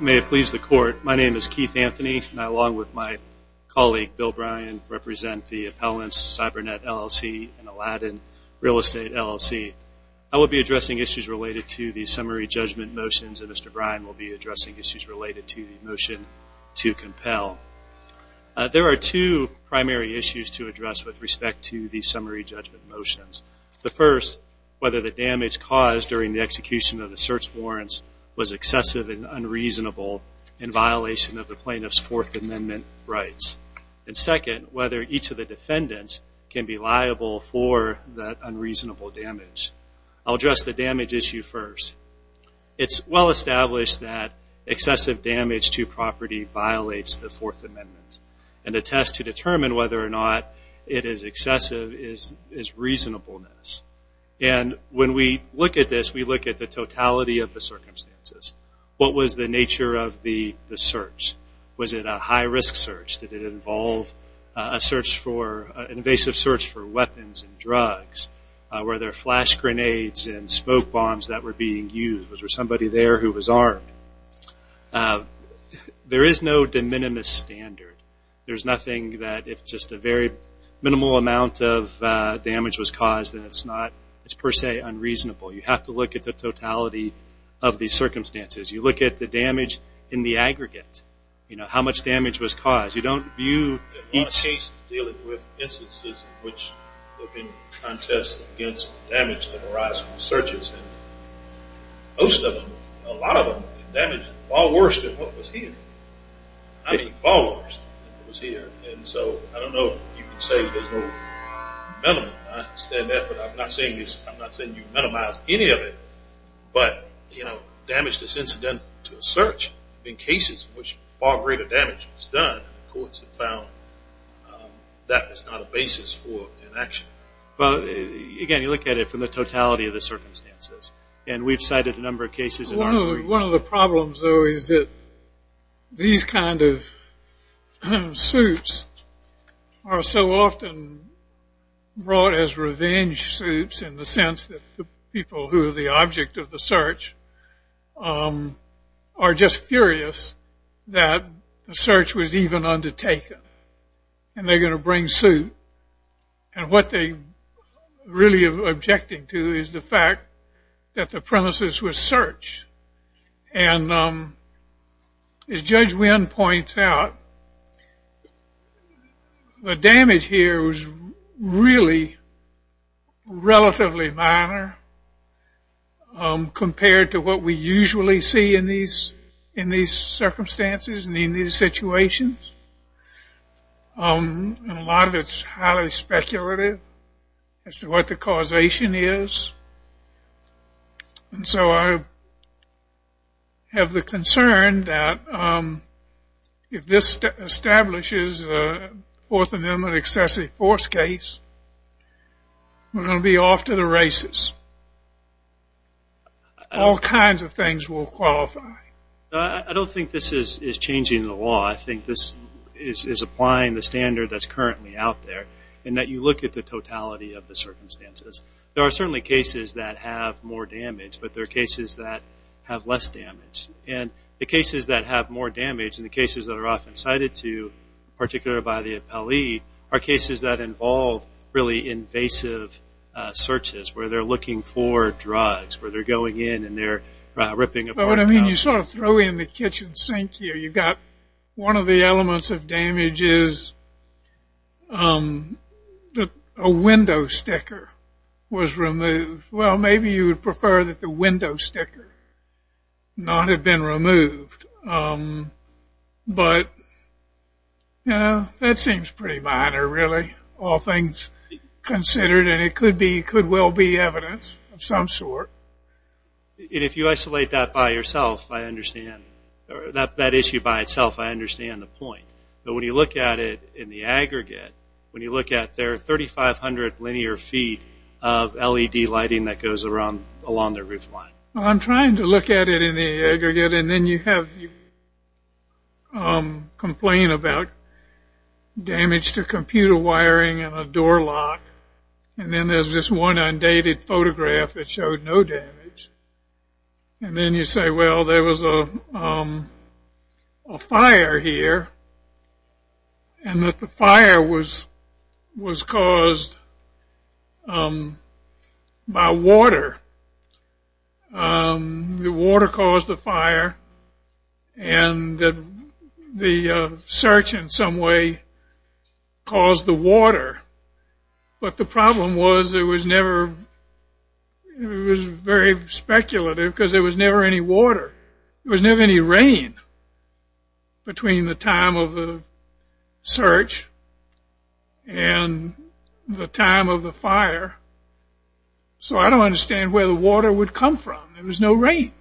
May it please the court, my name is Keith Anthony and I along with my colleague Bill Bryan represent the Appellants Cybernet, LLC and Aladdin Real Estate, LLC. I will be addressing issues related to the summary judgment motions and Mr. Bryan will be addressing issues related to the motion to compel. There are two primary issues to address with respect to the summary judgment motions. The first, whether the damage caused during the execution of the search warrants was excessive and unreasonable in violation of the plaintiff's Fourth Amendment rights. And second, whether each of the defendants can be liable for that unreasonable damage. I'll address the damage issue first. It's well established that excessive damage to property violates the Fourth Amendment and the test to determine whether or not it is What was the nature of the search? Was it a high-risk search? Did it involve an invasive search for weapons and drugs? Were there flash grenades and smoke bombs that were being used? Was there somebody there who was armed? There is no de minimis standard. There's nothing that if just a very minimal amount of damage was caused then it's per se unreasonable. You have to look at the totality of the circumstances. You look at the damage in the aggregate. How much damage was caused? You don't view each... There are cases dealing with instances in which there have been contests against damage that arise from searches. Most of them, a lot of them, damage far worse than what was here. I mean far worse than what was here. And so I don't know if you can say there's no minimum. I understand that, but I'm not saying you've minimized any of it. But, you know, damage that's incidental to a search in cases in which far greater damage was done, the courts have found that is not a basis for an action. Again, you look at it from the totality of the circumstances. And we've cited a number of cases in our... One of the problems, though, is that these kind of suits are so often brought as revenge suits in the sense that the people who are the object of the search are just furious that the search was even undertaken. And they're going to bring suit. And what they're really objecting to is the fact that the premises were searched. And as Judge Wynn points out, the damage here was really relatively minor compared to what we usually see in these circumstances and in these situations. And a lot of it's highly speculative as to what the causation is. And so I have the concern that if this establishes a Fourth Amendment excessive force case, we're going to be off to the races. All kinds of things will qualify. I don't think this is changing the law. I think this is applying the standard that's you look at the totality of the circumstances. There are certainly cases that have more damage, but there are cases that have less damage. And the cases that have more damage and the cases that are often cited to, particularly by the appellee, are cases that involve really invasive searches where they're looking for drugs, where they're going in and they're ripping apart... I mean, you sort of throw in the kitchen sink here. You've got one of the elements of damage is a window sticker was removed. Well, maybe you would prefer that the window sticker not have been removed. But that seems pretty minor, really, all things considered. And it could well be evidence of some sort. And if you isolate that by yourself, I understand... that issue by itself, I understand the point. But when you look at it in the aggregate, when you look at their 3,500 linear feet of LED lighting that goes along their roof line... Well, I'm trying to look at it in the aggregate, and then you have... you complain about damage to computer wiring and a door lock, and then there's this one undated photograph that showed no damage. And then you say, well, there was a fire here, and that the fire was caused by water. The water caused the fire, and the search in some way caused the water. But the search is very speculative because there was never any water. There was never any rain between the time of the search and the time of the fire. So I don't understand where the water would come from. There was no rain.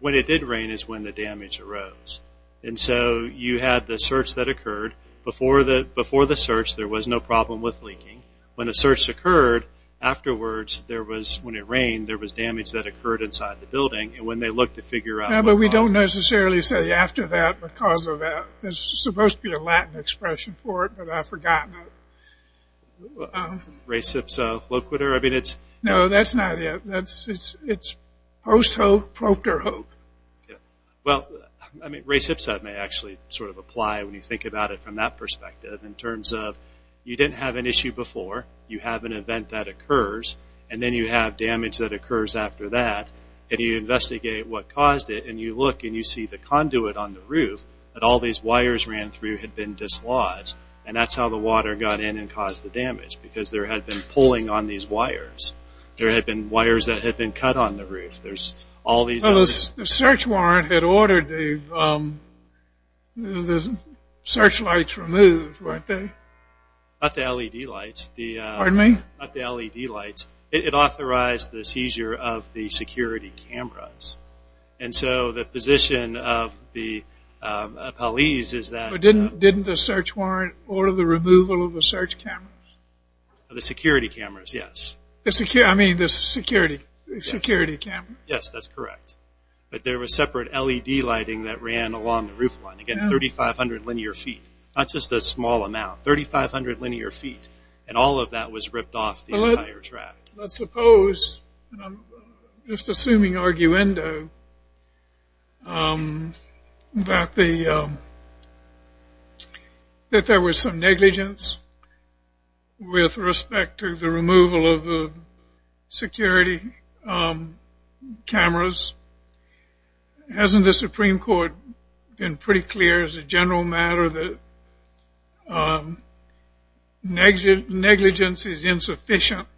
When it did rain is when the damage arose. And so you had the search that occurred. Before the search, there was no problem with leaking. When the search occurred, afterwards, there was... when it rained, there was damage that occurred inside the building. And when they looked to figure out... Yeah, but we don't necessarily say after that because of that. There's supposed to be a Latin expression for it, but I've forgotten it. Recipso loquitur? I mean, it's... No, that's not it. It's post hoc proctor hoc. Well, Recipso may actually sort of apply when you think about it from that perspective in terms of you didn't have an issue before. You have an event that occurs, and then you have damage that occurs after that. And you investigate what caused it, and you look and you see the conduit on the roof that all these wires ran through had been dislodged. And that's how the water got in and caused the damage because there had been pulling on these wires. There had been wires that had been cut on the roof. There's all these... Well, the search warrant had ordered the searchlights removed, right? Not the LED lights. Pardon me? Not the LED lights. It authorized the seizure of the security cameras. And so the position of the police is that... But didn't the search warrant order the removal of the search cameras? The security cameras, yes. I mean, the security cameras. Yes, that's correct. But there was separate LED lighting that ran along the roof line. Again, 3,500 linear feet. Not just a small amount. 3,500 linear feet. And all of that was ripped off the entire track. Let's suppose, just assuming arguendo, that there was some negligence with respect to the removal of the security cameras. Hasn't the Supreme Court been pretty clear as a general matter that negligence is insufficient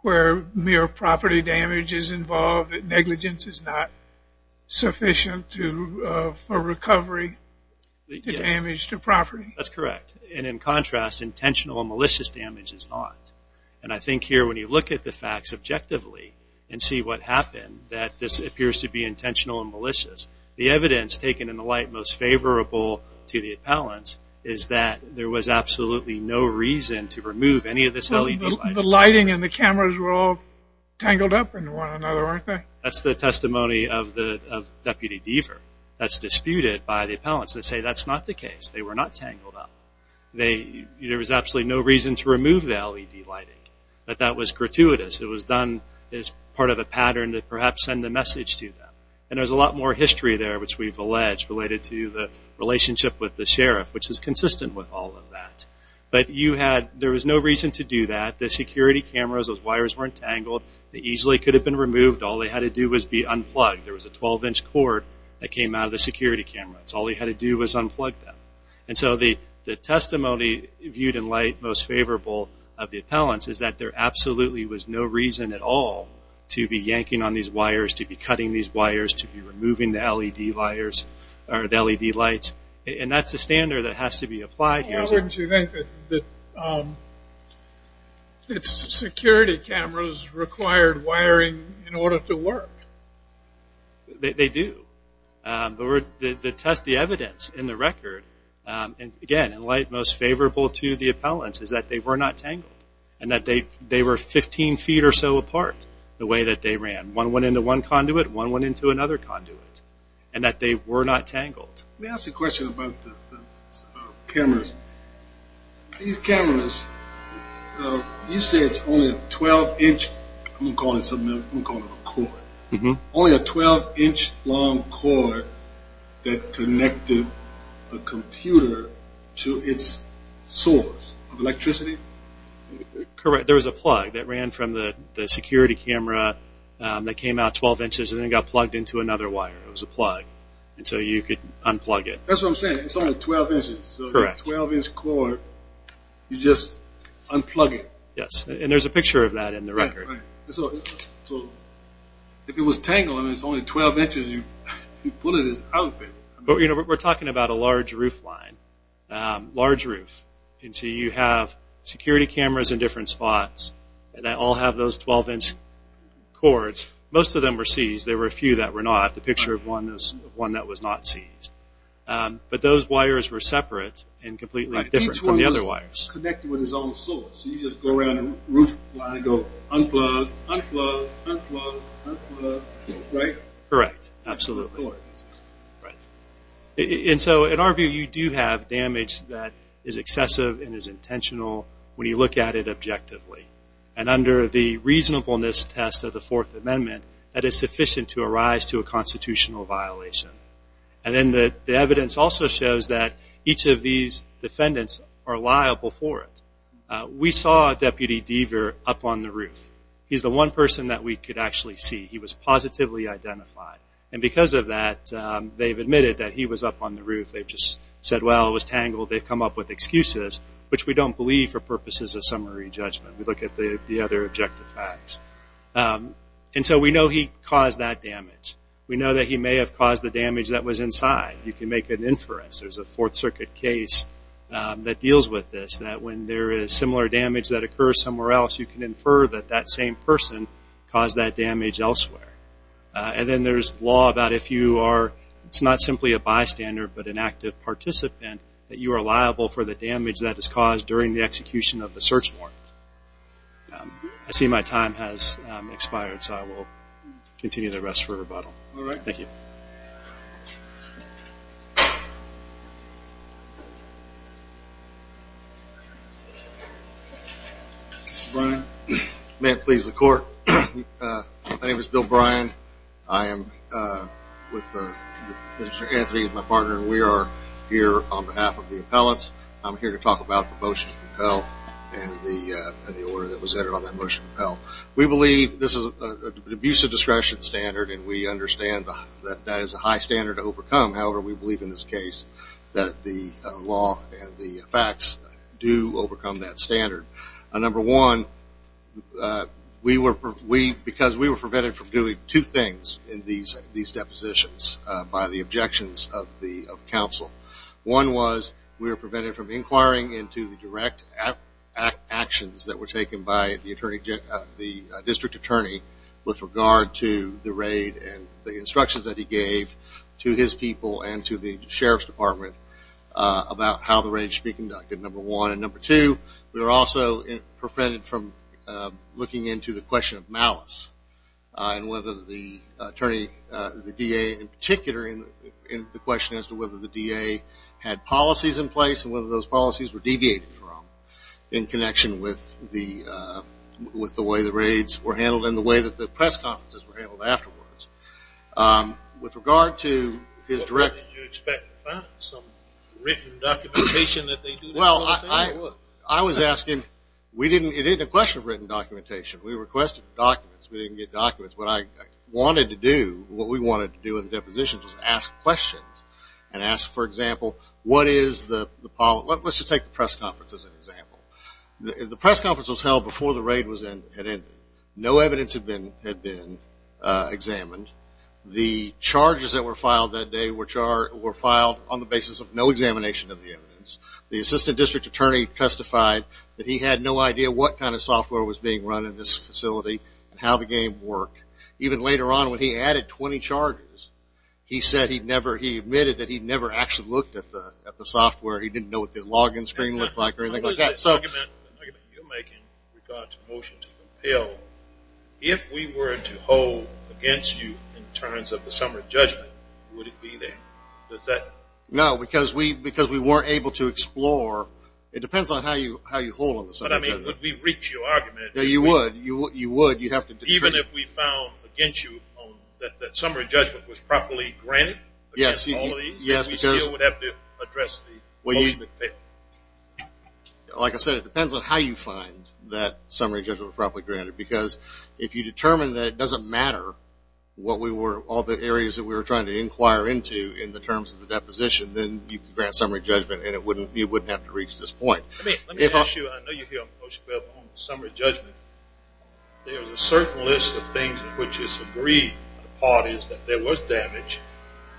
where mere property damage is involved, that negligence is not sufficient for recovery of damage to property? That's correct. And in contrast, intentional and malicious damage is not. And I think here when you look at the facts objectively and see what happened, that this appears to be intentional and malicious. The evidence taken in the light most favorable to the appellants is that there was absolutely no reason to remove any of this LED lighting. The lighting and the cameras were all tangled up in one another, weren't they? That's the testimony of Deputy Deaver. That's disputed by the appellants. They say that's not the case. They were not tangled up. There was absolutely no reason to remove the LED lighting. But that was gratuitous. It was done as part of a pattern to perhaps send a message to them. And there's a lot more history there, which we've alleged, related to the relationship with the sheriff, which is consistent with all of that. But there was no reason to do that. The security cameras, those wires weren't tangled. They easily could have been removed. All they had to do was be unplugged. There was a 12-inch cord that came out of the security cameras. All they had to do was unplug them. And so the testimony viewed in light most favorable of the appellants is that there absolutely was no reason at all to be yanking on these wires, to be cutting these wires, to be removing the LED lights. And that's the standard that has to be applied here. Why wouldn't you think that security cameras required wiring in order to work? They do. The test, the evidence in the record, again, in light most favorable to the appellants is that they were not tangled. And that they were 15 feet or so apart, the way that they ran. One went into one conduit. One went into another conduit. And that they were not tangled. Let me ask a question about the cameras. These cameras, you say it's only a 12-inch, I'm going to call it a cord, only a 12-inch long cord that connected the computer to its source of electricity? Correct. There was a plug that ran from the security camera that came out 12 inches and then got plugged into another wire. It was a plug. And so you could unplug it. That's what I'm saying. It's only 12 inches. Correct. So a 12-inch cord, you just unplug it. Yes. And there's a picture of that in the record. Right. So if it was tangled, I mean, it's only 12 inches, you pull it out. But, you know, we're talking about a large roof line, large roof. And so you have security cameras in different spots. And they all have those 12-inch cords. Most of them were seized. There were a few that were not. The picture of one that was not seized. But those wires were separate and completely different from the other wires. Each one was connected with its own source. So you just go around the roof line and go unplug, unplug, unplug, unplug, right? Correct. Absolutely. And so in our view, you do have damage that is excessive and is intentional when you look at it objectively. And under the reasonableness test of the Fourth Amendment, that is sufficient to arise to a constitutional violation. And then the evidence also shows that each of these defendants are liable for it. We saw Deputy Deaver up on the roof. He's the one person that we could actually see. He was positively identified. And because of that, they've admitted that he was up on the roof. They've just said, well, it was tangled. They've come up with excuses, which we don't believe for purposes of summary judgment. We look at the other objective facts. And so we know he caused that damage. We know that he may have caused the damage that was inside. You can make an inference. There's a Fourth Circuit case that deals with this, that when there is similar damage that occurs somewhere else, you can infer that that same person caused that damage elsewhere. And then there's law about if you are not simply a bystander but an active participant, that you are liable for the damage that is caused during the execution of the search warrant. I see my time has expired, so I will continue the rest for rebuttal. Thank you. Mr. Bryan. May it please the Court. My name is Bill Bryan. I am with Mr. Anthony, my partner, and we are here on behalf of the appellants. I'm here to talk about the motion to compel and the order that was entered on that motion to compel. We believe this is an abusive discretion standard, and we understand that that is a high standard to overcome. However, we believe in this case that the law and the facts do overcome that standard. Number one, because we were prevented from doing two things in these depositions by the objections of the counsel. One was we were prevented from inquiring into the direct actions that were taken by the District Attorney with regard to the raid and the instructions that he gave to his people and to the Sheriff's Department about how the raid should be conducted, number one. And number two, we were also prevented from looking into the question of malice and whether the DA in particular in the question as to whether the DA had policies in place and whether those policies were deviated from in connection with the way the raids were handled and the way that the press conferences were handled afterwards. With regard to his direct – What did you expect to find, some written documentation that they – Well, I was asking – it isn't a question of written documentation. We requested documents. We didn't get documents. What I wanted to do, what we wanted to do in the depositions was ask questions and ask, for example, what is the – let's just take the press conference as an example. The press conference was held before the raid had ended. No evidence had been examined. The charges that were filed that day were filed on the basis of no examination of the evidence. The assistant district attorney testified that he had no idea what kind of software was being run in this facility and how the game worked. Even later on, when he added 20 charges, he said he'd never – he admitted that he'd never actually looked at the software. He didn't know what the log-in screen looked like or anything like that. The argument you're making with regard to the motion to compel, if we were to hold against you in terms of the summer judgment, would it be there? Does that – No, because we weren't able to explore. It depends on how you hold on the summer judgment. But, I mean, would we reach your argument? Yeah, you would. You would. You'd have to – Even if we found against you that summer judgment was properly granted against all of these? Yes, because – We still would have to address the motion. Like I said, it depends on how you find that summer judgment was properly granted. Because if you determine that it doesn't matter what we were – in the terms of the deposition, then you could grant summer judgment and you wouldn't have to reach this point. Let me ask you. I know you're here on the motion to compel, but on the summer judgment, there's a certain list of things in which it's agreed. Part is that there was damage.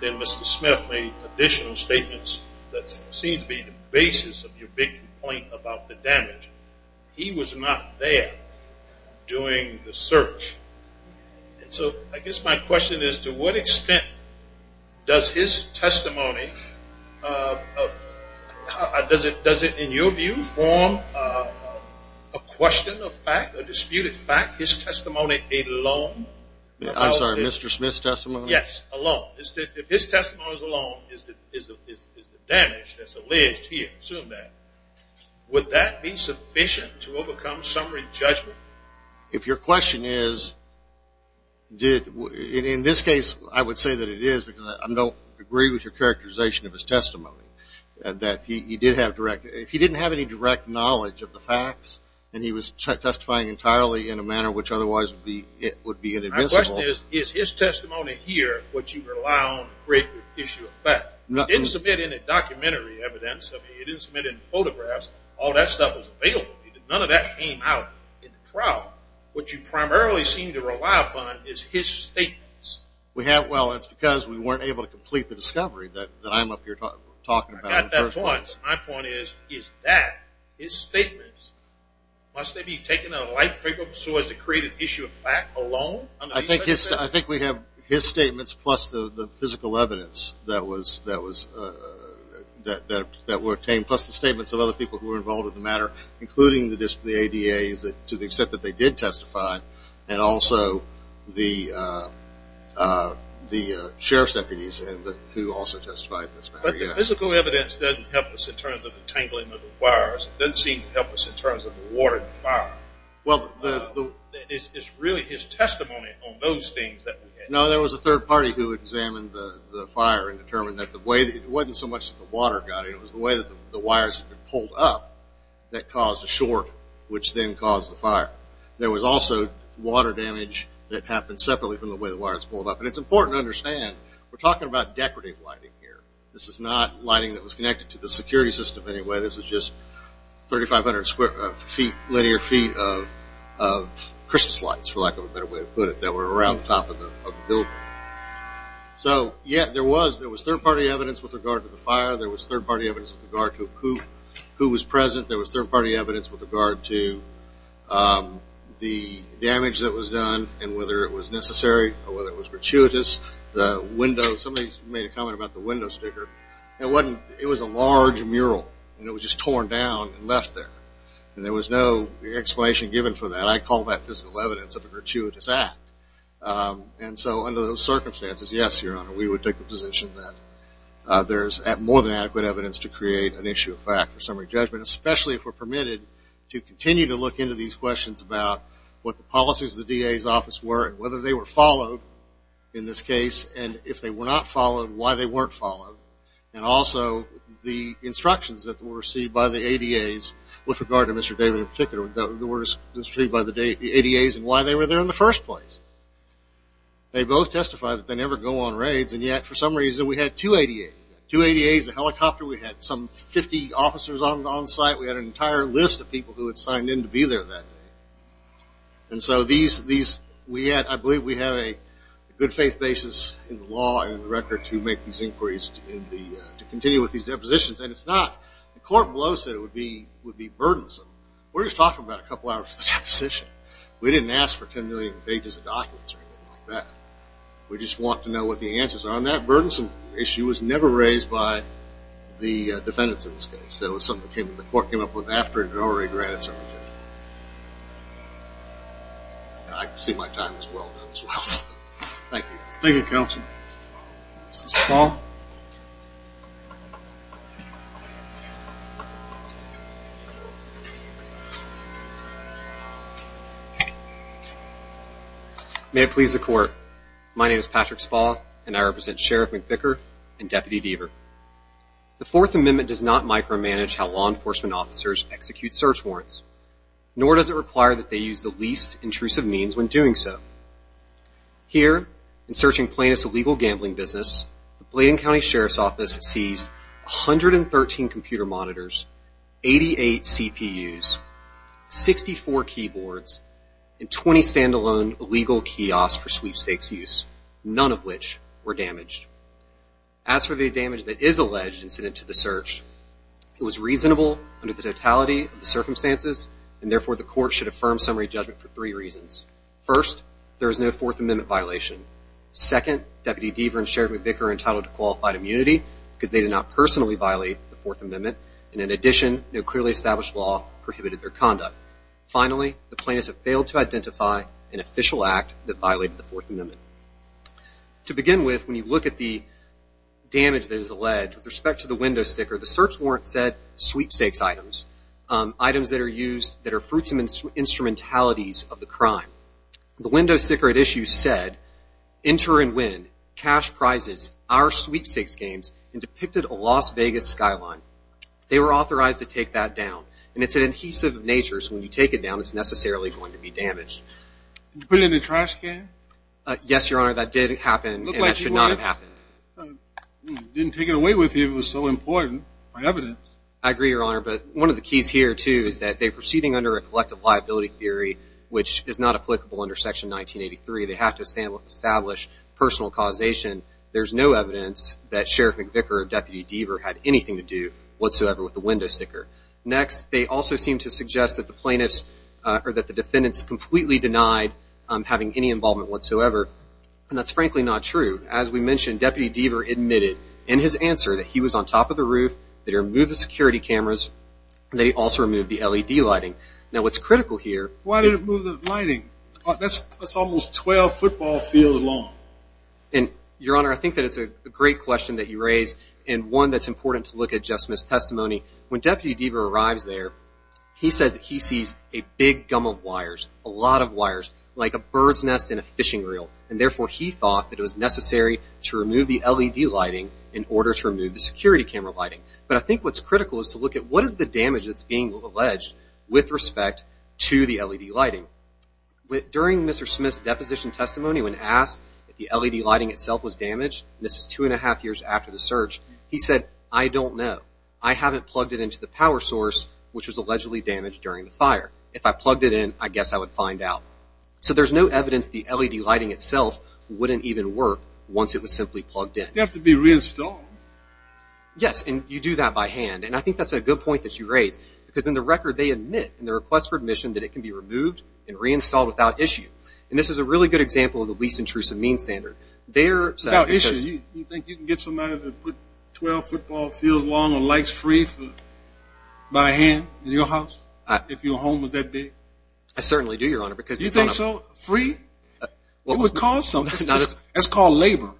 Then Mr. Smith made additional statements that seem to be the basis of your big complaint about the damage. He was not there doing the search. So I guess my question is, to what extent does his testimony – does it, in your view, form a question of fact, a disputed fact, his testimony alone? I'm sorry, Mr. Smith's testimony? Yes, alone. If his testimony alone is the damage that's alleged here, assume that, would that be sufficient to overcome summer judgment? If your question is, in this case, I would say that it is because I don't agree with your characterization of his testimony, that he did have direct – if he didn't have any direct knowledge of the facts and he was testifying entirely in a manner which otherwise would be inadmissible. My question is, is his testimony here what you rely on to create the issue of fact? He didn't submit any documentary evidence. I mean, he didn't submit any photographs. All that stuff is available. None of that came out in the trial. What you primarily seem to rely upon is his statements. Well, it's because we weren't able to complete the discovery that I'm up here talking about. I got that point. My point is, is that his statements? Must they be taken in a light figure so as to create an issue of fact alone? I think we have his statements plus the physical evidence that were obtained, plus the statements of other people who were involved in the matter, including the ADAs, to the extent that they did testify, and also the sheriff's deputies who also testified in this matter. But the physical evidence doesn't help us in terms of the tangling of the wires. It doesn't seem to help us in terms of the water in the fire. Well, the – It's really his testimony on those things that – No, there was a third party who examined the fire and determined that the way – it wasn't so much that the water got it. It was the way that the wires had been pulled up that caused a short, which then caused the fire. There was also water damage that happened separately from the way the wires pulled up. And it's important to understand, we're talking about decorative lighting here. This is not lighting that was connected to the security system in any way. This was just 3,500 square feet, linear feet of Christmas lights, for lack of a better way to put it, that were around the top of the building. So, yeah, there was third party evidence with regard to the fire. There was third party evidence with regard to who was present. There was third party evidence with regard to the damage that was done and whether it was necessary or whether it was gratuitous. The window – somebody made a comment about the window sticker. It wasn't – it was a large mural, and it was just torn down and left there. And there was no explanation given for that. I call that physical evidence of a gratuitous act. And so under those circumstances, yes, Your Honor, we would take the position that there's more than adequate evidence to create an issue of fact for summary judgment, especially if we're permitted to continue to look into these questions about what the policies of the DA's office were and whether they were followed in this case, and if they were not followed, why they weren't followed, and also the instructions that were received by the ADAs with regard to Mr. David in particular, that were received by the ADAs and why they were there in the first place. They both testify that they never go on raids, and yet for some reason we had two ADAs. Two ADAs, a helicopter. We had some 50 officers on site. We had an entire list of people who had signed in to be there that day. And so these – we had – I believe we have a good faith basis in the law and in the record to make these inquiries in the – to continue with these depositions. And it's not – the court below said it would be burdensome. We're just talking about a couple hours for the deposition. We didn't ask for 10 million pages of documents or anything like that. We just want to know what the answers are. And that burdensome issue was never raised by the defendants in this case. It was something the court came up with after it had already granted some of the – I can see my time is well done as well. Thank you. Thank you, counsel. Mr. Small. May it please the court. My name is Patrick Small, and I represent Sheriff McVicker and Deputy Deaver. The Fourth Amendment does not micromanage how law enforcement officers execute search warrants, nor does it require that they use the least intrusive means when doing so. Here, in searching plaintiffs' illegal gambling business, the Blading County Sheriff's Office seized 113 computer monitors, 88 CPUs, 64 keyboards, and 20 standalone illegal kiosks for sweepstakes use, none of which were damaged. As for the damage that is alleged incident to the search, it was reasonable under the totality of the circumstances, and therefore the court should affirm summary judgment for three reasons. First, there is no Fourth Amendment violation. Second, Deputy Deaver and Sheriff McVicker are entitled to qualified immunity because they did not personally violate the Fourth Amendment, and in addition, no clearly established law prohibited their conduct. Finally, the plaintiffs have failed to identify an official act that violated the Fourth Amendment. To begin with, when you look at the damage that is alleged, with respect to the window sticker, the search warrant said, sweepstakes items, items that are used that are fruits and instrumentalities of the crime. The window sticker at issue said, enter and win, cash prizes, our sweepstakes games, and depicted a Las Vegas skyline. They were authorized to take that down, and it's an adhesive of nature, so when you take it down, it's necessarily going to be damaged. Did you put it in the trash can? Yes, Your Honor, that did happen, and that should not have happened. Didn't take it away with you if it was so important by evidence. I agree, Your Honor, but one of the keys here, too, is that they're proceeding under a collective liability theory, which is not applicable under Section 1983. They have to establish personal causation. There's no evidence that Sheriff McVicker or Deputy Deaver had anything to do whatsoever with the window sticker. Next, they also seem to suggest that the defendants completely denied having any involvement whatsoever, and that's frankly not true. As we mentioned, Deputy Deaver admitted in his answer that he was on top of the roof, that he removed the security cameras, and that he also removed the LED lighting. Now, what's critical here... Why did he remove the lighting? That's almost 12 football fields long. Your Honor, I think that it's a great question that you raise, and one that's important to look at Jeff Smith's testimony. When Deputy Deaver arrives there, he says that he sees a big gum of wires, a lot of wires, like a bird's nest in a fishing reel, and therefore he thought that it was necessary to remove the LED lighting in order to remove the security camera lighting. But I think what's critical is to look at what is the damage that's being alleged with respect to the LED lighting. During Mr. Smith's deposition testimony, when asked if the LED lighting itself was damaged, and this is two and a half years after the search, he said, I don't know. I haven't plugged it into the power source, which was allegedly damaged during the fire. If I plugged it in, I guess I would find out. So there's no evidence the LED lighting itself wouldn't even work once it was simply plugged in. You have to be reinstalled. Yes, and you do that by hand, and I think that's a good point that you raise, because in the record they admit in their request for admission that it can be removed and reinstalled without issue. And this is a really good example of the least intrusive means standard. Without issue? You think you can get somebody to put 12 football fields long of lights free by hand in your house if your home was that big? I certainly do, Your Honor. You think so? Free? It would cost something. It's called labor.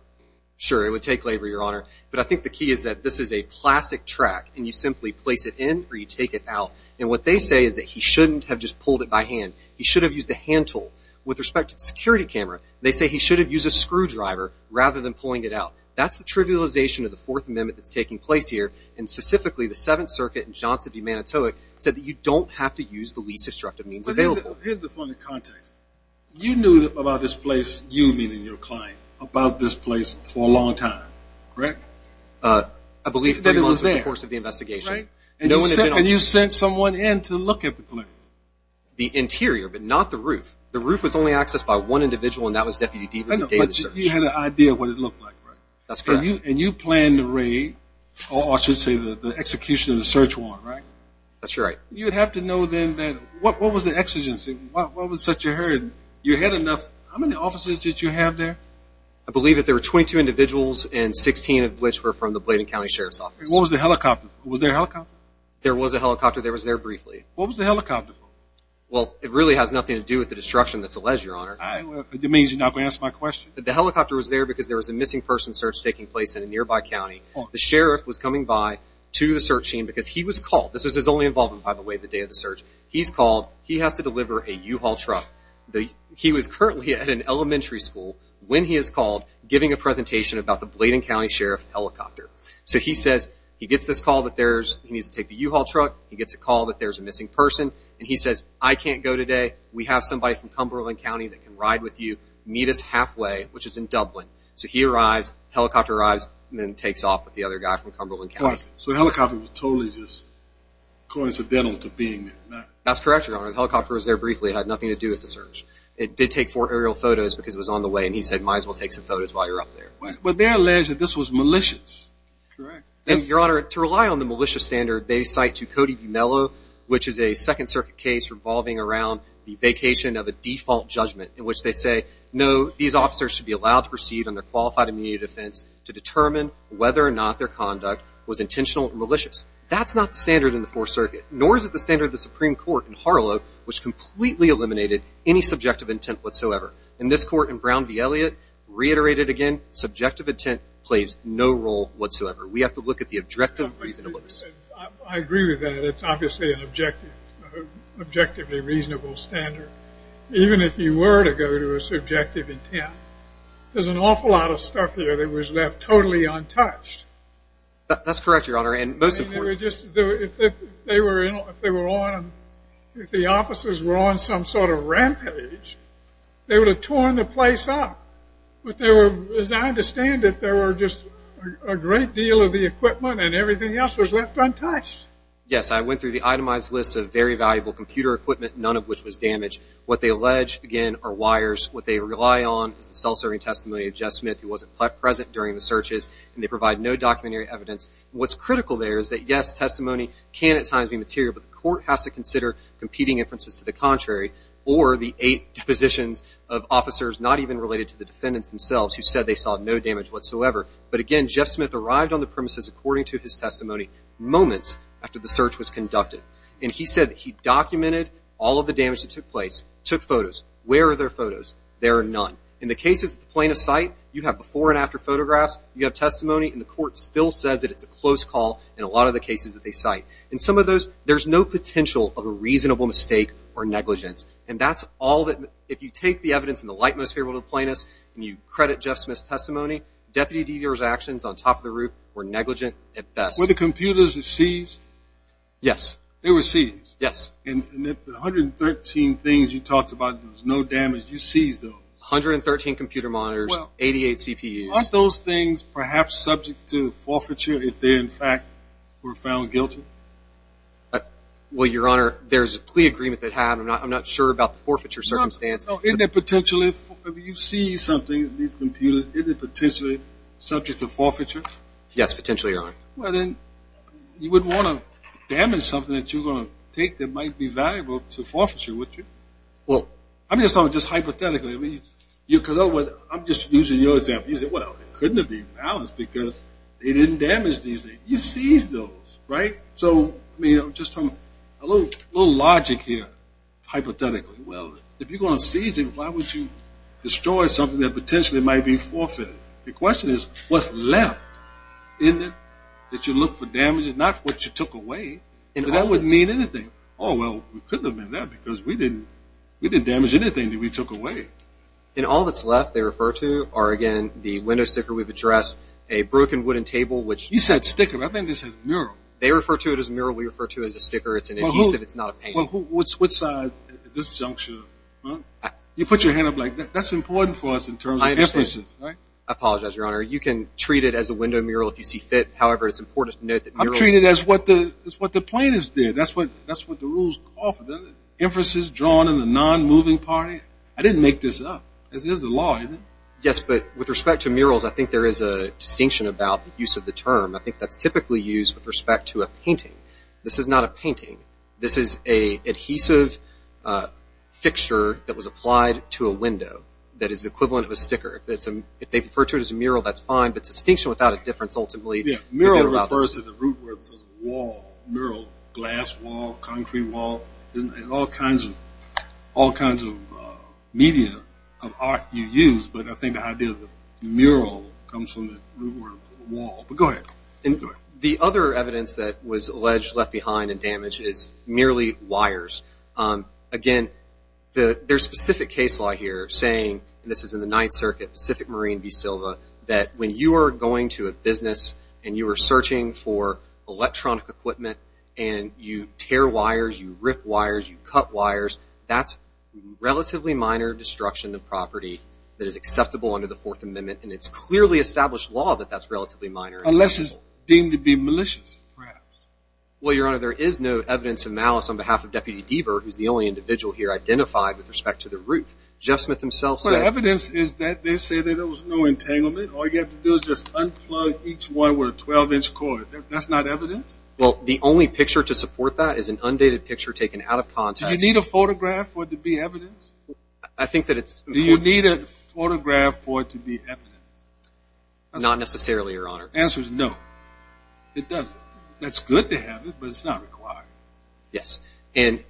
Sure, it would take labor, Your Honor. But I think the key is that this is a plastic track, and you simply place it in or you take it out. And what they say is that he shouldn't have just pulled it by hand. He should have used a hand tool. With respect to the security camera, they say he should have used a screwdriver rather than pulling it out. That's the trivialization of the Fourth Amendment that's taking place here, and specifically the Seventh Circuit and Johnson v. Manitowic said that you don't have to use the least destructive means available. Here's the funny context. You knew about this place, you meaning your client, about this place for a long time, correct? I believe three months was the course of the investigation. And you sent someone in to look at the place? The interior, but not the roof. The roof was only accessed by one individual, and that was Deputy Deaton. But you had an idea of what it looked like, right? That's correct. And you planned the raid, or I should say the execution of the search warrant, right? That's right. You would have to know then what was the exigency, what was such a hurry? You had enough. How many officers did you have there? I believe that there were 22 individuals and 16 of which were from the Bladen County Sheriff's Office. What was the helicopter for? Was there a helicopter? There was a helicopter. It was there briefly. What was the helicopter for? Well, it really has nothing to do with the destruction that's alleged, Your Honor. That means you're not going to answer my question. The helicopter was there because there was a missing person search taking place in a nearby county. The sheriff was coming by to the search team because he was called. This was only involving him by the way the day of the search. He's called. He has to deliver a U-Haul truck. He was currently at an elementary school when he is called giving a presentation about the Bladen County Sheriff helicopter. So he says he gets this call that he needs to take the U-Haul truck. He gets a call that there's a missing person, and he says, I can't go today. We have somebody from Cumberland County that can ride with you. Meet us halfway, which is in Dublin. So he arrives, helicopter arrives, and then takes off with the other guy from Cumberland County. So the helicopter was totally just coincidental to being there. That's correct, Your Honor. The helicopter was there briefly. It had nothing to do with the search. It did take four aerial photos because it was on the way, and he said, might as well take some photos while you're up there. But they're alleged that this was malicious. Correct. Your Honor, to rely on the malicious standard, they cite to Cody V. Mello, which is a Second Circuit case revolving around the vacation of a default judgment, in which they say, no, these officers should be allowed to proceed on their qualified immediate defense to determine whether or not their conduct was intentional and malicious. That's not the standard in the Fourth Circuit, nor is it the standard of the Supreme Court in Harlow, which completely eliminated any subjective intent whatsoever. In this court in Brown v. Elliott, reiterated again, subjective intent plays no role whatsoever. We have to look at the objective reasonableness. I agree with that. It's obviously an objectively reasonable standard. Even if you were to go to a subjective intent, there's an awful lot of stuff here that was left totally untouched. That's correct, Your Honor. If the officers were on some sort of rampage, they would have torn the place up. But as I understand it, there were just a great deal of the equipment and everything else was left untouched. Yes, I went through the itemized list of very valuable computer equipment, none of which was damaged. What they allege, again, are wires. What they rely on is the self-serving testimony of Jeff Smith, who wasn't present during the searches, and they provide no documentary evidence. What's critical there is that, yes, testimony can at times be material, but the court has to consider competing inferences to the contrary or the eight depositions of officers not even related to the defendants themselves who said they saw no damage whatsoever. But again, Jeff Smith arrived on the premises, according to his testimony, moments after the search was conducted. And he said that he documented all of the damage that took place, took photos. Where are their photos? There are none. In the cases at the plaintiff's site, you have before and after photographs, you have testimony, and the court still says that it's a close call in a lot of the cases that they cite. In some of those, there's no potential of a reasonable mistake or negligence. And that's all that, if you take the evidence in the light most favorable to the plaintiff's and you credit Jeff Smith's testimony, Deputy DeVere's actions on top of the roof were negligent at best. Were the computers seized? Yes. They were seized? Yes. And the 113 things you talked about, there was no damage, you seized those? 113 computer monitors, 88 CPUs. Weren't those things perhaps subject to forfeiture if they, in fact, were found guilty? Well, Your Honor, there's a plea agreement that had. I'm not sure about the forfeiture circumstance. Isn't it potentially, if you seize something, these computers, isn't it potentially subject to forfeiture? Yes, potentially, Your Honor. Well, then you wouldn't want to damage something that you're going to take that might be valuable to forfeiture, would you? I'm just talking just hypothetically. I'm just using your example. You say, well, it couldn't have been balanced because they didn't damage these things. You seized those, right? So I'm just talking a little logic here, hypothetically. Well, if you're going to seize it, why would you destroy something that potentially might be forfeited? The question is what's left in it that you look for damage, not what you took away. That wouldn't mean anything. Oh, well, it couldn't have been that because we didn't damage anything that we took away. And all that's left, they refer to, are, again, the window sticker. We've addressed a broken wooden table. You said sticker. I think they said mural. They refer to it as a mural. We refer to it as a sticker. It's an adhesive. It's not a painting. Well, what's this junction? You put your hand up like that. That's important for us in terms of differences, right? I apologize, Your Honor. You can treat it as a window mural if you see fit. However, it's important to note that murals… I'm treating it as what the plaintiffs did. That's what the rules offer. Emphasis drawn in the non-moving party. I didn't make this up. This is the law, isn't it? Yes, but with respect to murals, I think there is a distinction about the use of the term. I think that's typically used with respect to a painting. This is not a painting. This is an adhesive fixture that was applied to a window that is the equivalent of a sticker. If they refer to it as a mural, that's fine. But distinction without a difference ultimately… It refers to the root word. It says wall, mural, glass wall, concrete wall. There's all kinds of media of art you use, but I think the idea of the mural comes from the root word wall. But go ahead. The other evidence that was alleged left behind and damaged is merely wires. Again, there's specific case law here saying, and this is in the Ninth Circuit, Pacific Marine v. Silva, that when you are going to a business and you are searching for electronic equipment and you tear wires, you rip wires, you cut wires, that's relatively minor destruction of property that is acceptable under the Fourth Amendment, and it's clearly established law that that's relatively minor. Unless it's deemed to be malicious, perhaps. Well, Your Honor, there is no evidence of malice on behalf of Deputy Deaver, who's the only individual here, identified with respect to the roof. Jeff Smith himself said… All you have to do is just unplug each one with a 12-inch cord. That's not evidence? Well, the only picture to support that is an undated picture taken out of context. Do you need a photograph for it to be evidence? I think that it's… Do you need a photograph for it to be evidence? Not necessarily, Your Honor. The answer is no. It doesn't. That's good to have it, but it's not required. Yes. And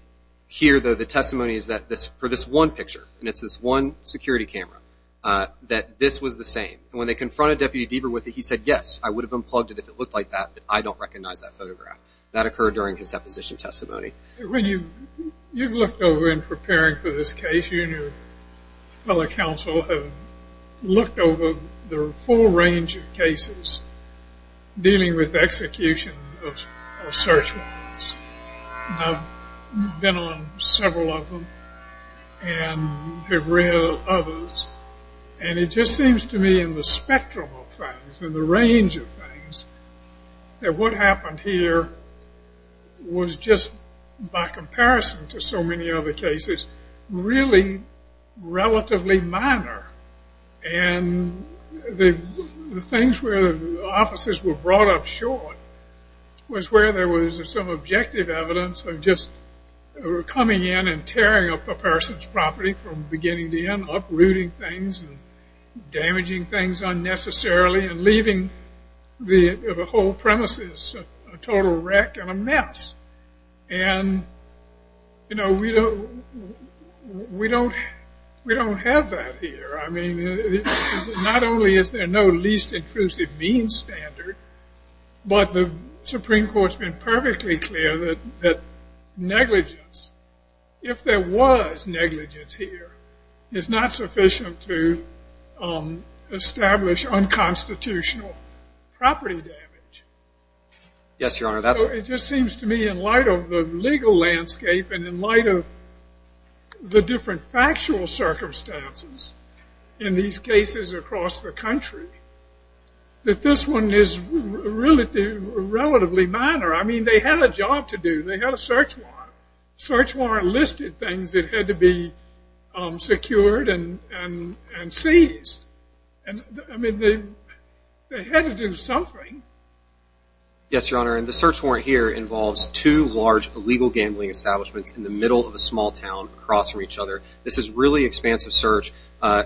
here, though, the testimony is that for this one picture, and it's this one security camera, that this was the same. And when they confronted Deputy Deaver with it, he said, yes, I would have unplugged it if it looked like that, but I don't recognize that photograph. That occurred during his deposition testimony. When you've looked over in preparing for this case, you and your fellow counsel have looked over the full range of cases dealing with execution of search warrants. I've been on several of them and have read others, and it just seems to me in the spectrum of things, in the range of things, that what happened here was just, by comparison to so many other cases, really relatively minor. And the things where the officers were brought up short was where there was some objective evidence of just coming in and tearing up a person's property from beginning to end, uprooting things and damaging things unnecessarily and leaving the whole premises a total wreck and a mess. And, you know, we don't have that here. I mean, not only is there no least intrusive means standard, but the Supreme Court's been perfectly clear that negligence, if there was negligence here, is not sufficient to establish unconstitutional property damage. Yes, Your Honor. So it just seems to me in light of the legal landscape and in light of the different factual circumstances in these cases across the country that this one is relatively minor. I mean, they had a job to do. They had a search warrant. The search warrant listed things that had to be secured and seized. I mean, they had to do something. Yes, Your Honor, and the search warrant here involves two large illegal gambling establishments in the middle of a small town crossing each other. This is really expansive search. I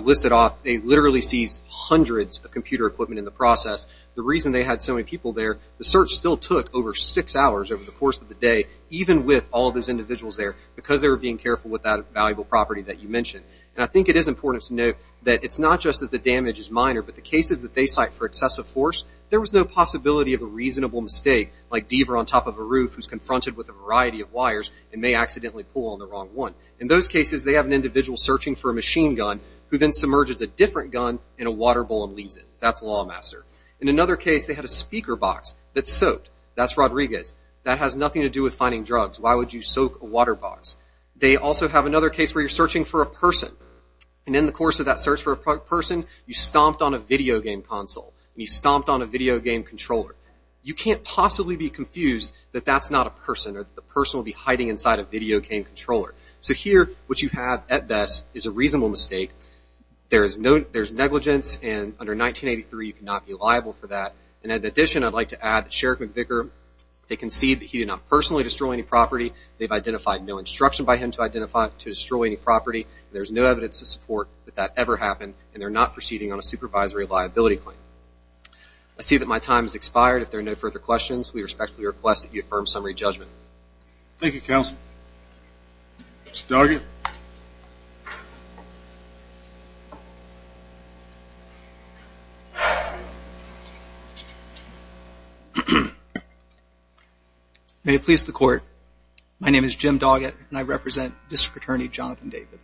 list it off. They literally seized hundreds of computer equipment in the process. The reason they had so many people there, the search still took over six hours over the course of the day, even with all those individuals there, because they were being careful with that valuable property that you mentioned. And I think it is important to note that it's not just that the damage is minor, but the cases that they cite for excessive force, there was no possibility of a reasonable mistake, like Deaver on top of a roof who's confronted with a variety of wires and may accidentally pull on the wrong one. In those cases, they have an individual searching for a machine gun who then submerges a different gun in a water bowl and leaves it. That's Lawmaster. In another case, they had a speaker box that's soaked. That's Rodriguez. That has nothing to do with finding drugs. Why would you soak a water box? They also have another case where you're searching for a person, and in the course of that search for a person, you stomped on a video game console, and you stomped on a video game controller. You can't possibly be confused that that's not a person, or that the person will be hiding inside a video game controller. So here, what you have at best is a reasonable mistake. There's negligence, and under 1983, you cannot be liable for that. In addition, I'd like to add that Sherrick McVicker, they concede that he did not personally destroy any property. They've identified no instruction by him to destroy any property. There's no evidence to support that that ever happened, and they're not proceeding on a supervisory liability claim. I see that my time has expired. If there are no further questions, we respectfully request that you affirm summary judgment. Thank you, Counsel. Mr. Doggett. May it please the Court. My name is Jim Doggett, and I represent District Attorney Jonathan David.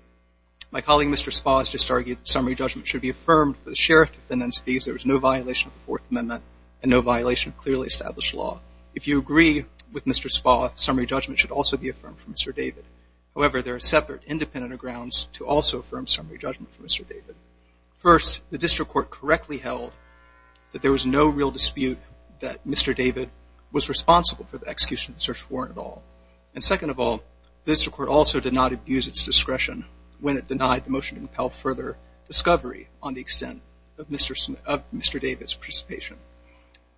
My colleague, Mr. Spaz, just argued that summary judgment should be affirmed for the sheriff to defend himself, because there was no violation of the Fourth Amendment and no violation of clearly established law. If you agree with Mr. Spaz, summary judgment should also be affirmed for Mr. David. However, there are separate, independent grounds to also affirm summary judgment for Mr. David. First, the district court correctly held that there was no real dispute that Mr. David was responsible for the execution of the search warrant at all. And second of all, the district court also did not abuse its discretion when it denied the motion to impel further discovery on the extent of Mr. David's participation.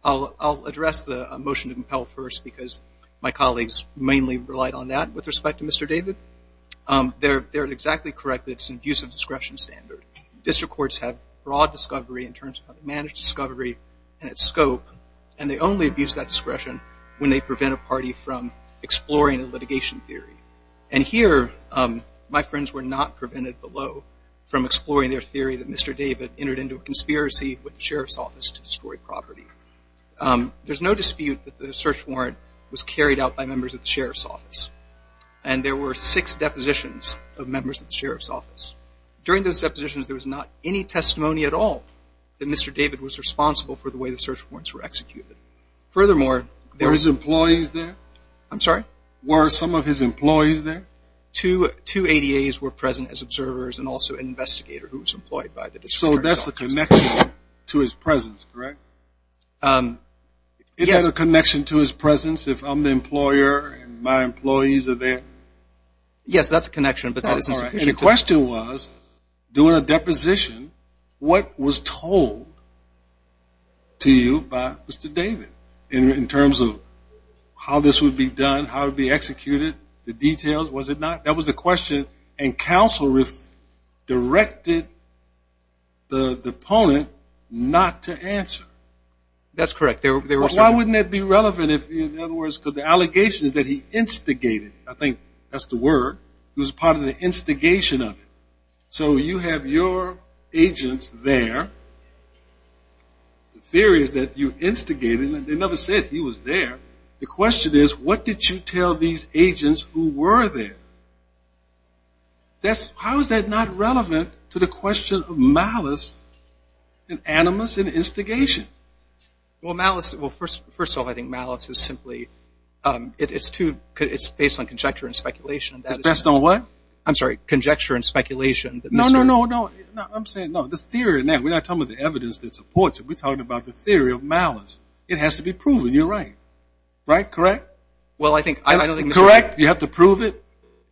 I'll address the motion to impel first, because my colleagues mainly relied on that with respect to Mr. David. They're exactly correct that it's an abuse of discretion standard. District courts have broad discovery in terms of how to manage discovery and its scope, and they only abuse that discretion when they prevent a party from exploring a litigation theory. And here, my friends were not prevented below from exploring their theory that Mr. David entered into a conspiracy with the sheriff's office to destroy property. There's no dispute that the search warrant was carried out by members of the sheriff's office, and there were six depositions of members of the sheriff's office. During those depositions, there was not any testimony at all that Mr. David was responsible for the way the search warrants were executed. Furthermore, there was... Were his employees there? I'm sorry? Were some of his employees there? Two ADAs were present as observers and also an investigator who was employed by the district court. So that's the connection to his presence, correct? Yes. It has a connection to his presence if I'm the employer and my employees are there? Yes, that's a connection, but that isn't... And the question was, during a deposition, what was told to you by Mr. David in terms of how this would be done, how it would be executed, the details? Was it not? That was the question, and counsel directed the opponent not to answer. That's correct. Why wouldn't that be relevant if, in other words, because the allegation is that he instigated. I think that's the word. It was part of the instigation of it. So you have your agents there. The theory is that you instigated. They never said he was there. The question is, what did you tell these agents who were there? How is that not relevant to the question of malice and animus and instigation? Well, malice, first of all, I think malice is simply, it's based on conjecture and speculation. It's based on what? I'm sorry, conjecture and speculation. No, no, no, no. I'm saying, no, the theory, we're not talking about the evidence that supports it. We're talking about the theory of malice. It has to be proven. You're right. Right? Correct? Correct. You have to prove it.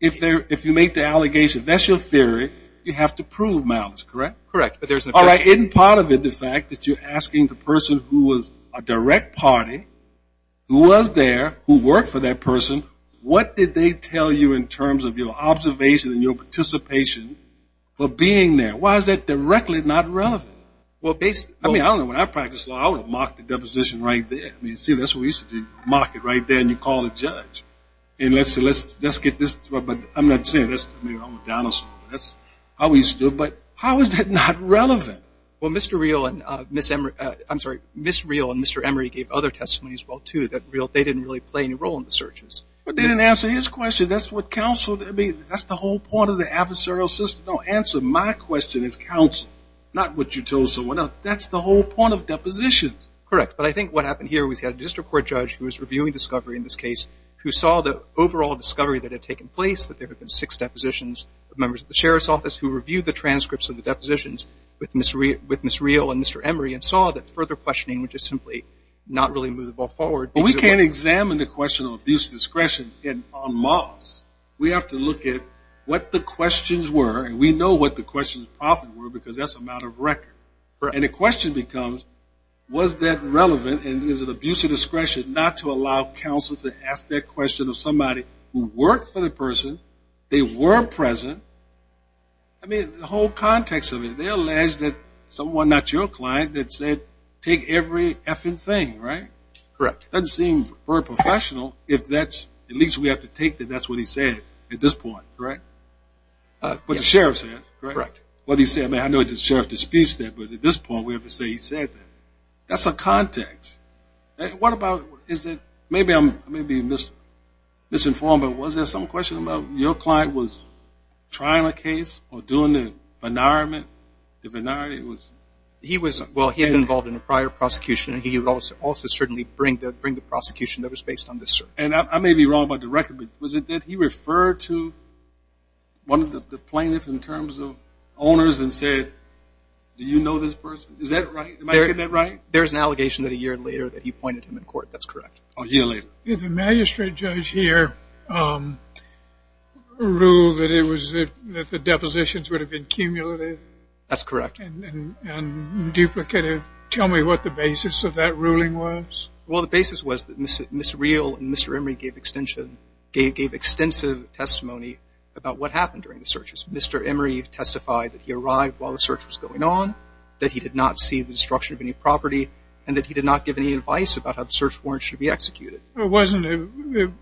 If you make the allegation, that's your theory. You have to prove malice. Correct? Correct. All right, isn't part of it the fact that you're asking the person who was a direct party, who was there, who worked for that person, what did they tell you in terms of your observation and your participation for being there? Why is that directly not relevant? I mean, I don't know. When I practiced law, I would have marked the deposition right there. I mean, see, that's what we used to do, mark it right there and you call the judge. And let's get this, but I'm not saying this, I mean, I'm a dinosaur. That's how we used to do it. But how is that not relevant? Well, Mr. Real and Ms. Emory, I'm sorry, Ms. Real and Mr. Emory gave other testimonies as well, too, that they didn't really play any role in the searches. But they didn't answer his question. That's what counsel, I mean, that's the whole point of the adversarial system. No, answer my question as counsel, not what you told someone else. That's the whole point of depositions. Correct. But I think what happened here was you had a district court judge who was reviewing discovery in this case, who saw the overall discovery that had taken place, that there had been six depositions of members of the sheriff's office who reviewed the transcripts of the depositions with Ms. Real and Mr. Emory and saw that further questioning was just simply not really movable forward. But we can't examine the question of abuse of discretion on mocks. We have to look at what the questions were, and we know what the questions probably were because that's a matter of record. And the question becomes, was that relevant, and is it abuse of discretion not to allow counsel to ask that question of somebody who worked for the person, they were present. I mean, the whole context of it, they alleged that someone, not your client, that said take every effing thing, right? Correct. Doesn't seem very professional if that's at least we have to take that that's what he said at this point, correct? What the sheriff said, correct? Correct. What he said. I mean, I know the sheriff disputes that, but at this point we have to say he said that. That's a context. What about is it maybe I'm being misinformed, but was there some question about your client was trying a case or doing the benarment? The benarment was? Well, he had been involved in a prior prosecution, and he would also certainly bring the prosecution that was based on this search. And I may be wrong about the record, but was it that he referred to one of the plaintiffs in terms of owners and said, do you know this person? Is that right? Am I getting that right? There's an allegation that a year later that he pointed him in court. That's correct. A year later. Did the magistrate judge here rule that the depositions would have been cumulative? That's correct. And duplicative? Tell me what the basis of that ruling was. Well, the basis was that Ms. Real and Mr. Emory gave extensive testimony about what happened during the searches. Mr. Emory testified that he arrived while the search was going on, that he did not see the destruction of any property, and that he did not give any advice about how the search warrant should be executed. It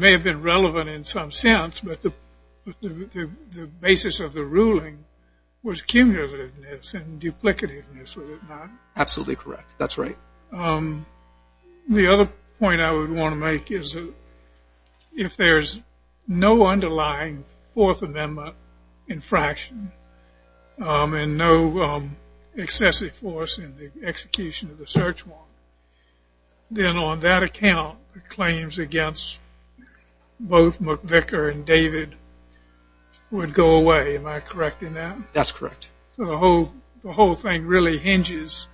may have been relevant in some sense, but the basis of the ruling was cumulativeness and duplicativeness, was it not? Absolutely correct. That's right. The other point I would want to make is if there's no underlying Fourth Amendment infraction and no excessive force in the execution of the search warrant, then on that account, the claims against both McVicker and David would go away. Am I correct in that? That's correct. So the whole thing really hinges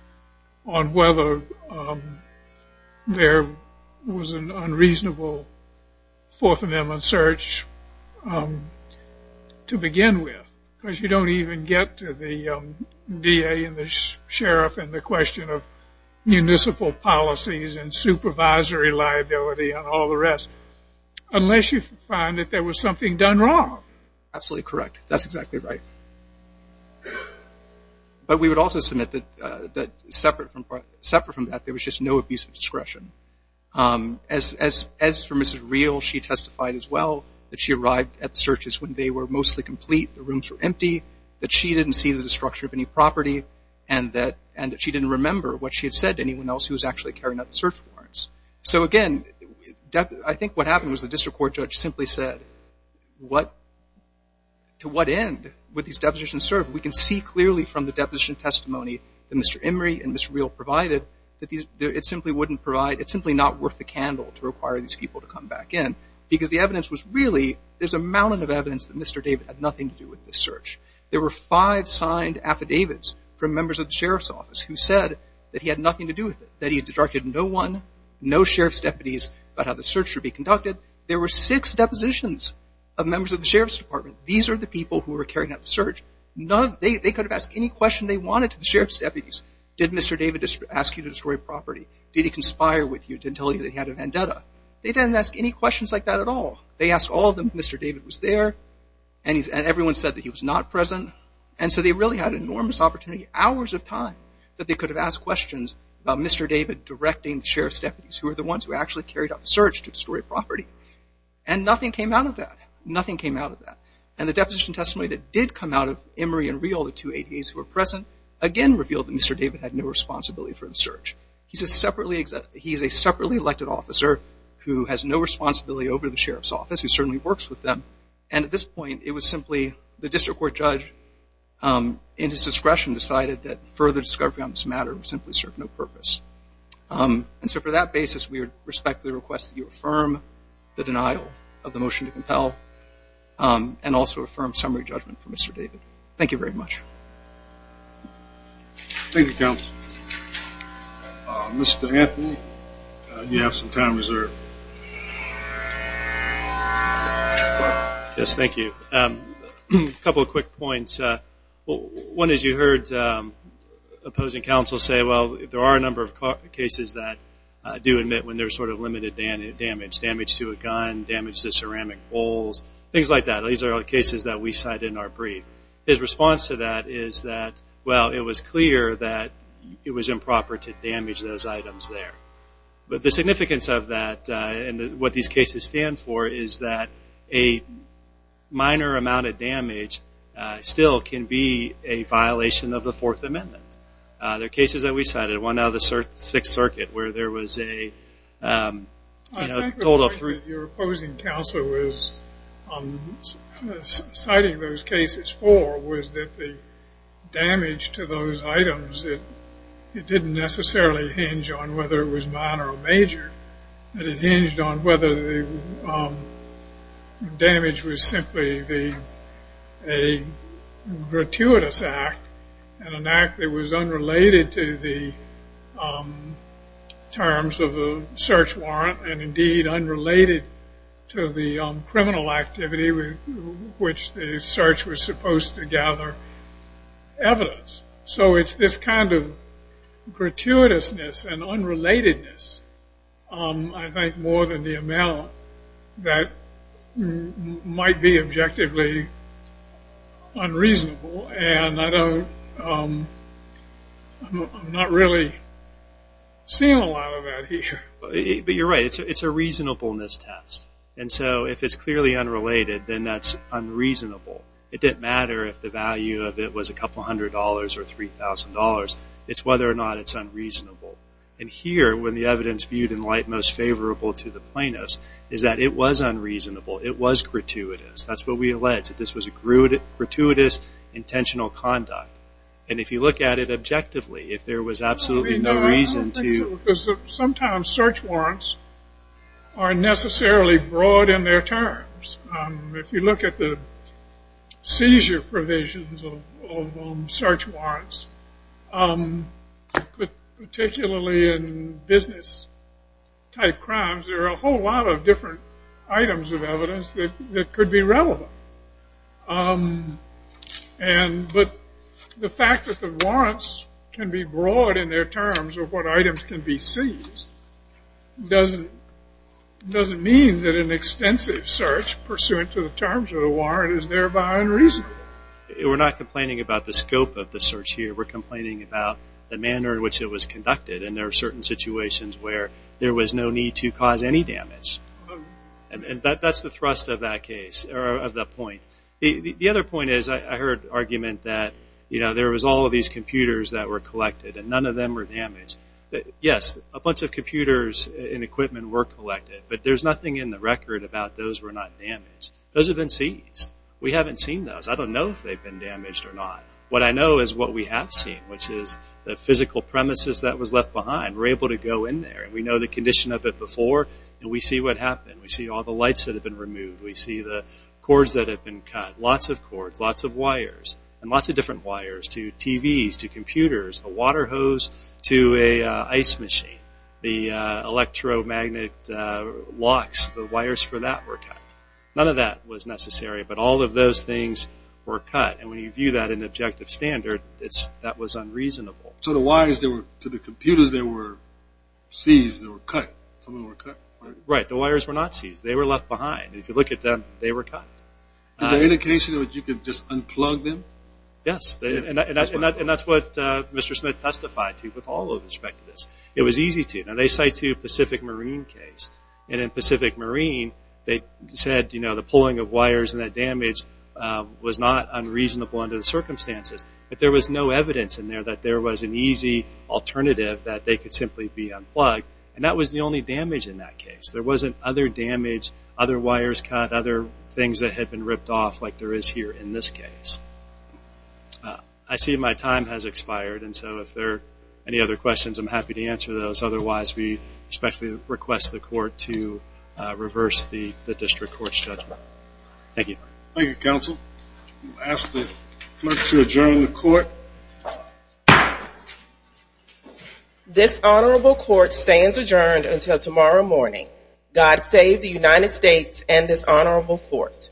on whether there was an unreasonable Fourth Amendment search to begin with, because you don't even get to the DA and the sheriff and the question of municipal policies and supervisory liability and all the rest unless you find that there was something done wrong. Absolutely correct. That's exactly right. But we would also submit that separate from that, there was just no abuse of discretion. As for Mrs. Reel, she testified as well that she arrived at the searches when they were mostly complete, the rooms were empty, that she didn't see the destruction of any property, and that she didn't remember what she had said to anyone else who was actually carrying out the search warrants. So again, I think what happened was the district court judge simply said, to what end would these depositions serve? We can see clearly from the deposition testimony that Mr. Emory and Mrs. Reel provided that it simply wouldn't provide, it's simply not worth the candle to require these people to come back in, because the evidence was really, there's a mountain of evidence that Mr. David had nothing to do with this search. There were five signed affidavits from members of the sheriff's office who said that he had nothing to do with it, that he had directed no one, no sheriff's deputies about how the search should be conducted. There were six depositions of members of the sheriff's department. These are the people who were carrying out the search. None of, they could have asked any question they wanted to the sheriff's deputies. Did Mr. David ask you to destroy property? Did he conspire with you to tell you that he had a vendetta? They didn't ask any questions like that at all. They asked all of them if Mr. David was there, and everyone said that he was not present. And so they really had enormous opportunity, hours of time that they could have asked questions about Mr. David directing the sheriff's deputies, who were the ones who actually carried out the search to destroy property. And nothing came out of that. Nothing came out of that. And the deposition testimony that did come out of Emory and Reel, the two ADAs who were present, again revealed that Mr. David had no responsibility for the search. He's a separately, he's a separately elected officer who has no responsibility over the sheriff's office, who certainly works with them. And at this point, it was simply the district court judge in his discretion decided that further discovery on this matter would simply serve no purpose. And so for that basis, we respectfully request that you affirm the denial of the motion to compel, and also affirm summary judgment for Mr. David. Thank you very much. Thank you, counsel. Mr. Anthony, you have some time reserved. Yes, thank you. A couple of quick points. One is you heard opposing counsel say, well, there are a number of cases that do admit when there's sort of limited damage, damage to a gun, damage to ceramic bowls, things like that. These are all cases that we cited in our brief. His response to that is that, well, it was clear that it was improper to damage those items there. But the significance of that and what these cases stand for is that a minor amount of damage still can be a violation of the Fourth Amendment. There are cases that we cited, one out of the Sixth Circuit where there was a total of three. I think the point that your opposing counsel was citing those cases for was that the damage to those items, it didn't necessarily hinge on whether it was minor or major, but it hinged on whether the damage was simply a gratuitous act and an act that was unrelated to the terms of the search warrant and, indeed, unrelated to the criminal activity which the search was supposed to gather evidence. So it's this kind of gratuitousness and unrelatedness, I think, more than the amount that might be objectively unreasonable. And I'm not really seeing a lot of that here. But you're right. It's a reasonableness test. And so if it's clearly unrelated, then that's unreasonable. It didn't matter if the value of it was a couple hundred dollars or $3,000. It's whether or not it's unreasonable. And here, when the evidence viewed in light most favorable to the plaintiffs, is that it was unreasonable. It was gratuitous. That's what we alleged, that this was a gratuitous, intentional conduct. And if you look at it objectively, if there was absolutely no reason to. I don't think so, because sometimes search warrants aren't necessarily broad in their terms. If you look at the seizure provisions of search warrants, particularly in business-type crimes, there are a whole lot of different items of evidence that could be relevant. But the fact that the warrants can be broad in their terms of what items can be pursuant to the terms of the warrant is thereby unreasonable. We're not complaining about the scope of the search here. We're complaining about the manner in which it was conducted. And there are certain situations where there was no need to cause any damage. And that's the thrust of that case, or of that point. The other point is, I heard argument that, you know, there was all of these computers that were collected, and none of them were damaged. Yes, a bunch of computers and equipment were collected, but there's nothing in the record about those were not damaged. Those have been seized. We haven't seen those. I don't know if they've been damaged or not. What I know is what we have seen, which is the physical premises that was left behind. We're able to go in there, and we know the condition of it before, and we see what happened. We see all the lights that have been removed. We see the cords that have been cut, lots of cords, lots of wires, and lots of different wires to TVs, to computers, a water hose to an ice machine, the electromagnet locks, the wires for that were cut. None of that was necessary, but all of those things were cut. And when you view that in objective standard, that was unreasonable. So the wires to the computers, they were seized or cut? Right. The wires were not seized. They were left behind. If you look at them, they were cut. Is there indication that you could just unplug them? Yes. And that's what Mr. Smith testified to with all of his speculatives. It was easy to. Now, they cite to Pacific Marine case. And in Pacific Marine, they said the pulling of wires and that damage was not unreasonable under the circumstances. But there was no evidence in there that there was an easy alternative that they could simply be unplugged. And that was the only damage in that case. There wasn't other damage, other wires cut, other things that had been ripped off like there is here in this case. I see my time has expired, and so if there are any other questions, I'm happy to answer those. Otherwise, we respectfully request the court to reverse the district court's judgment. Thank you. Thank you, counsel. We'll ask the clerk to adjourn the court. This honorable court stands adjourned until tomorrow morning. God save the United States and this honorable court.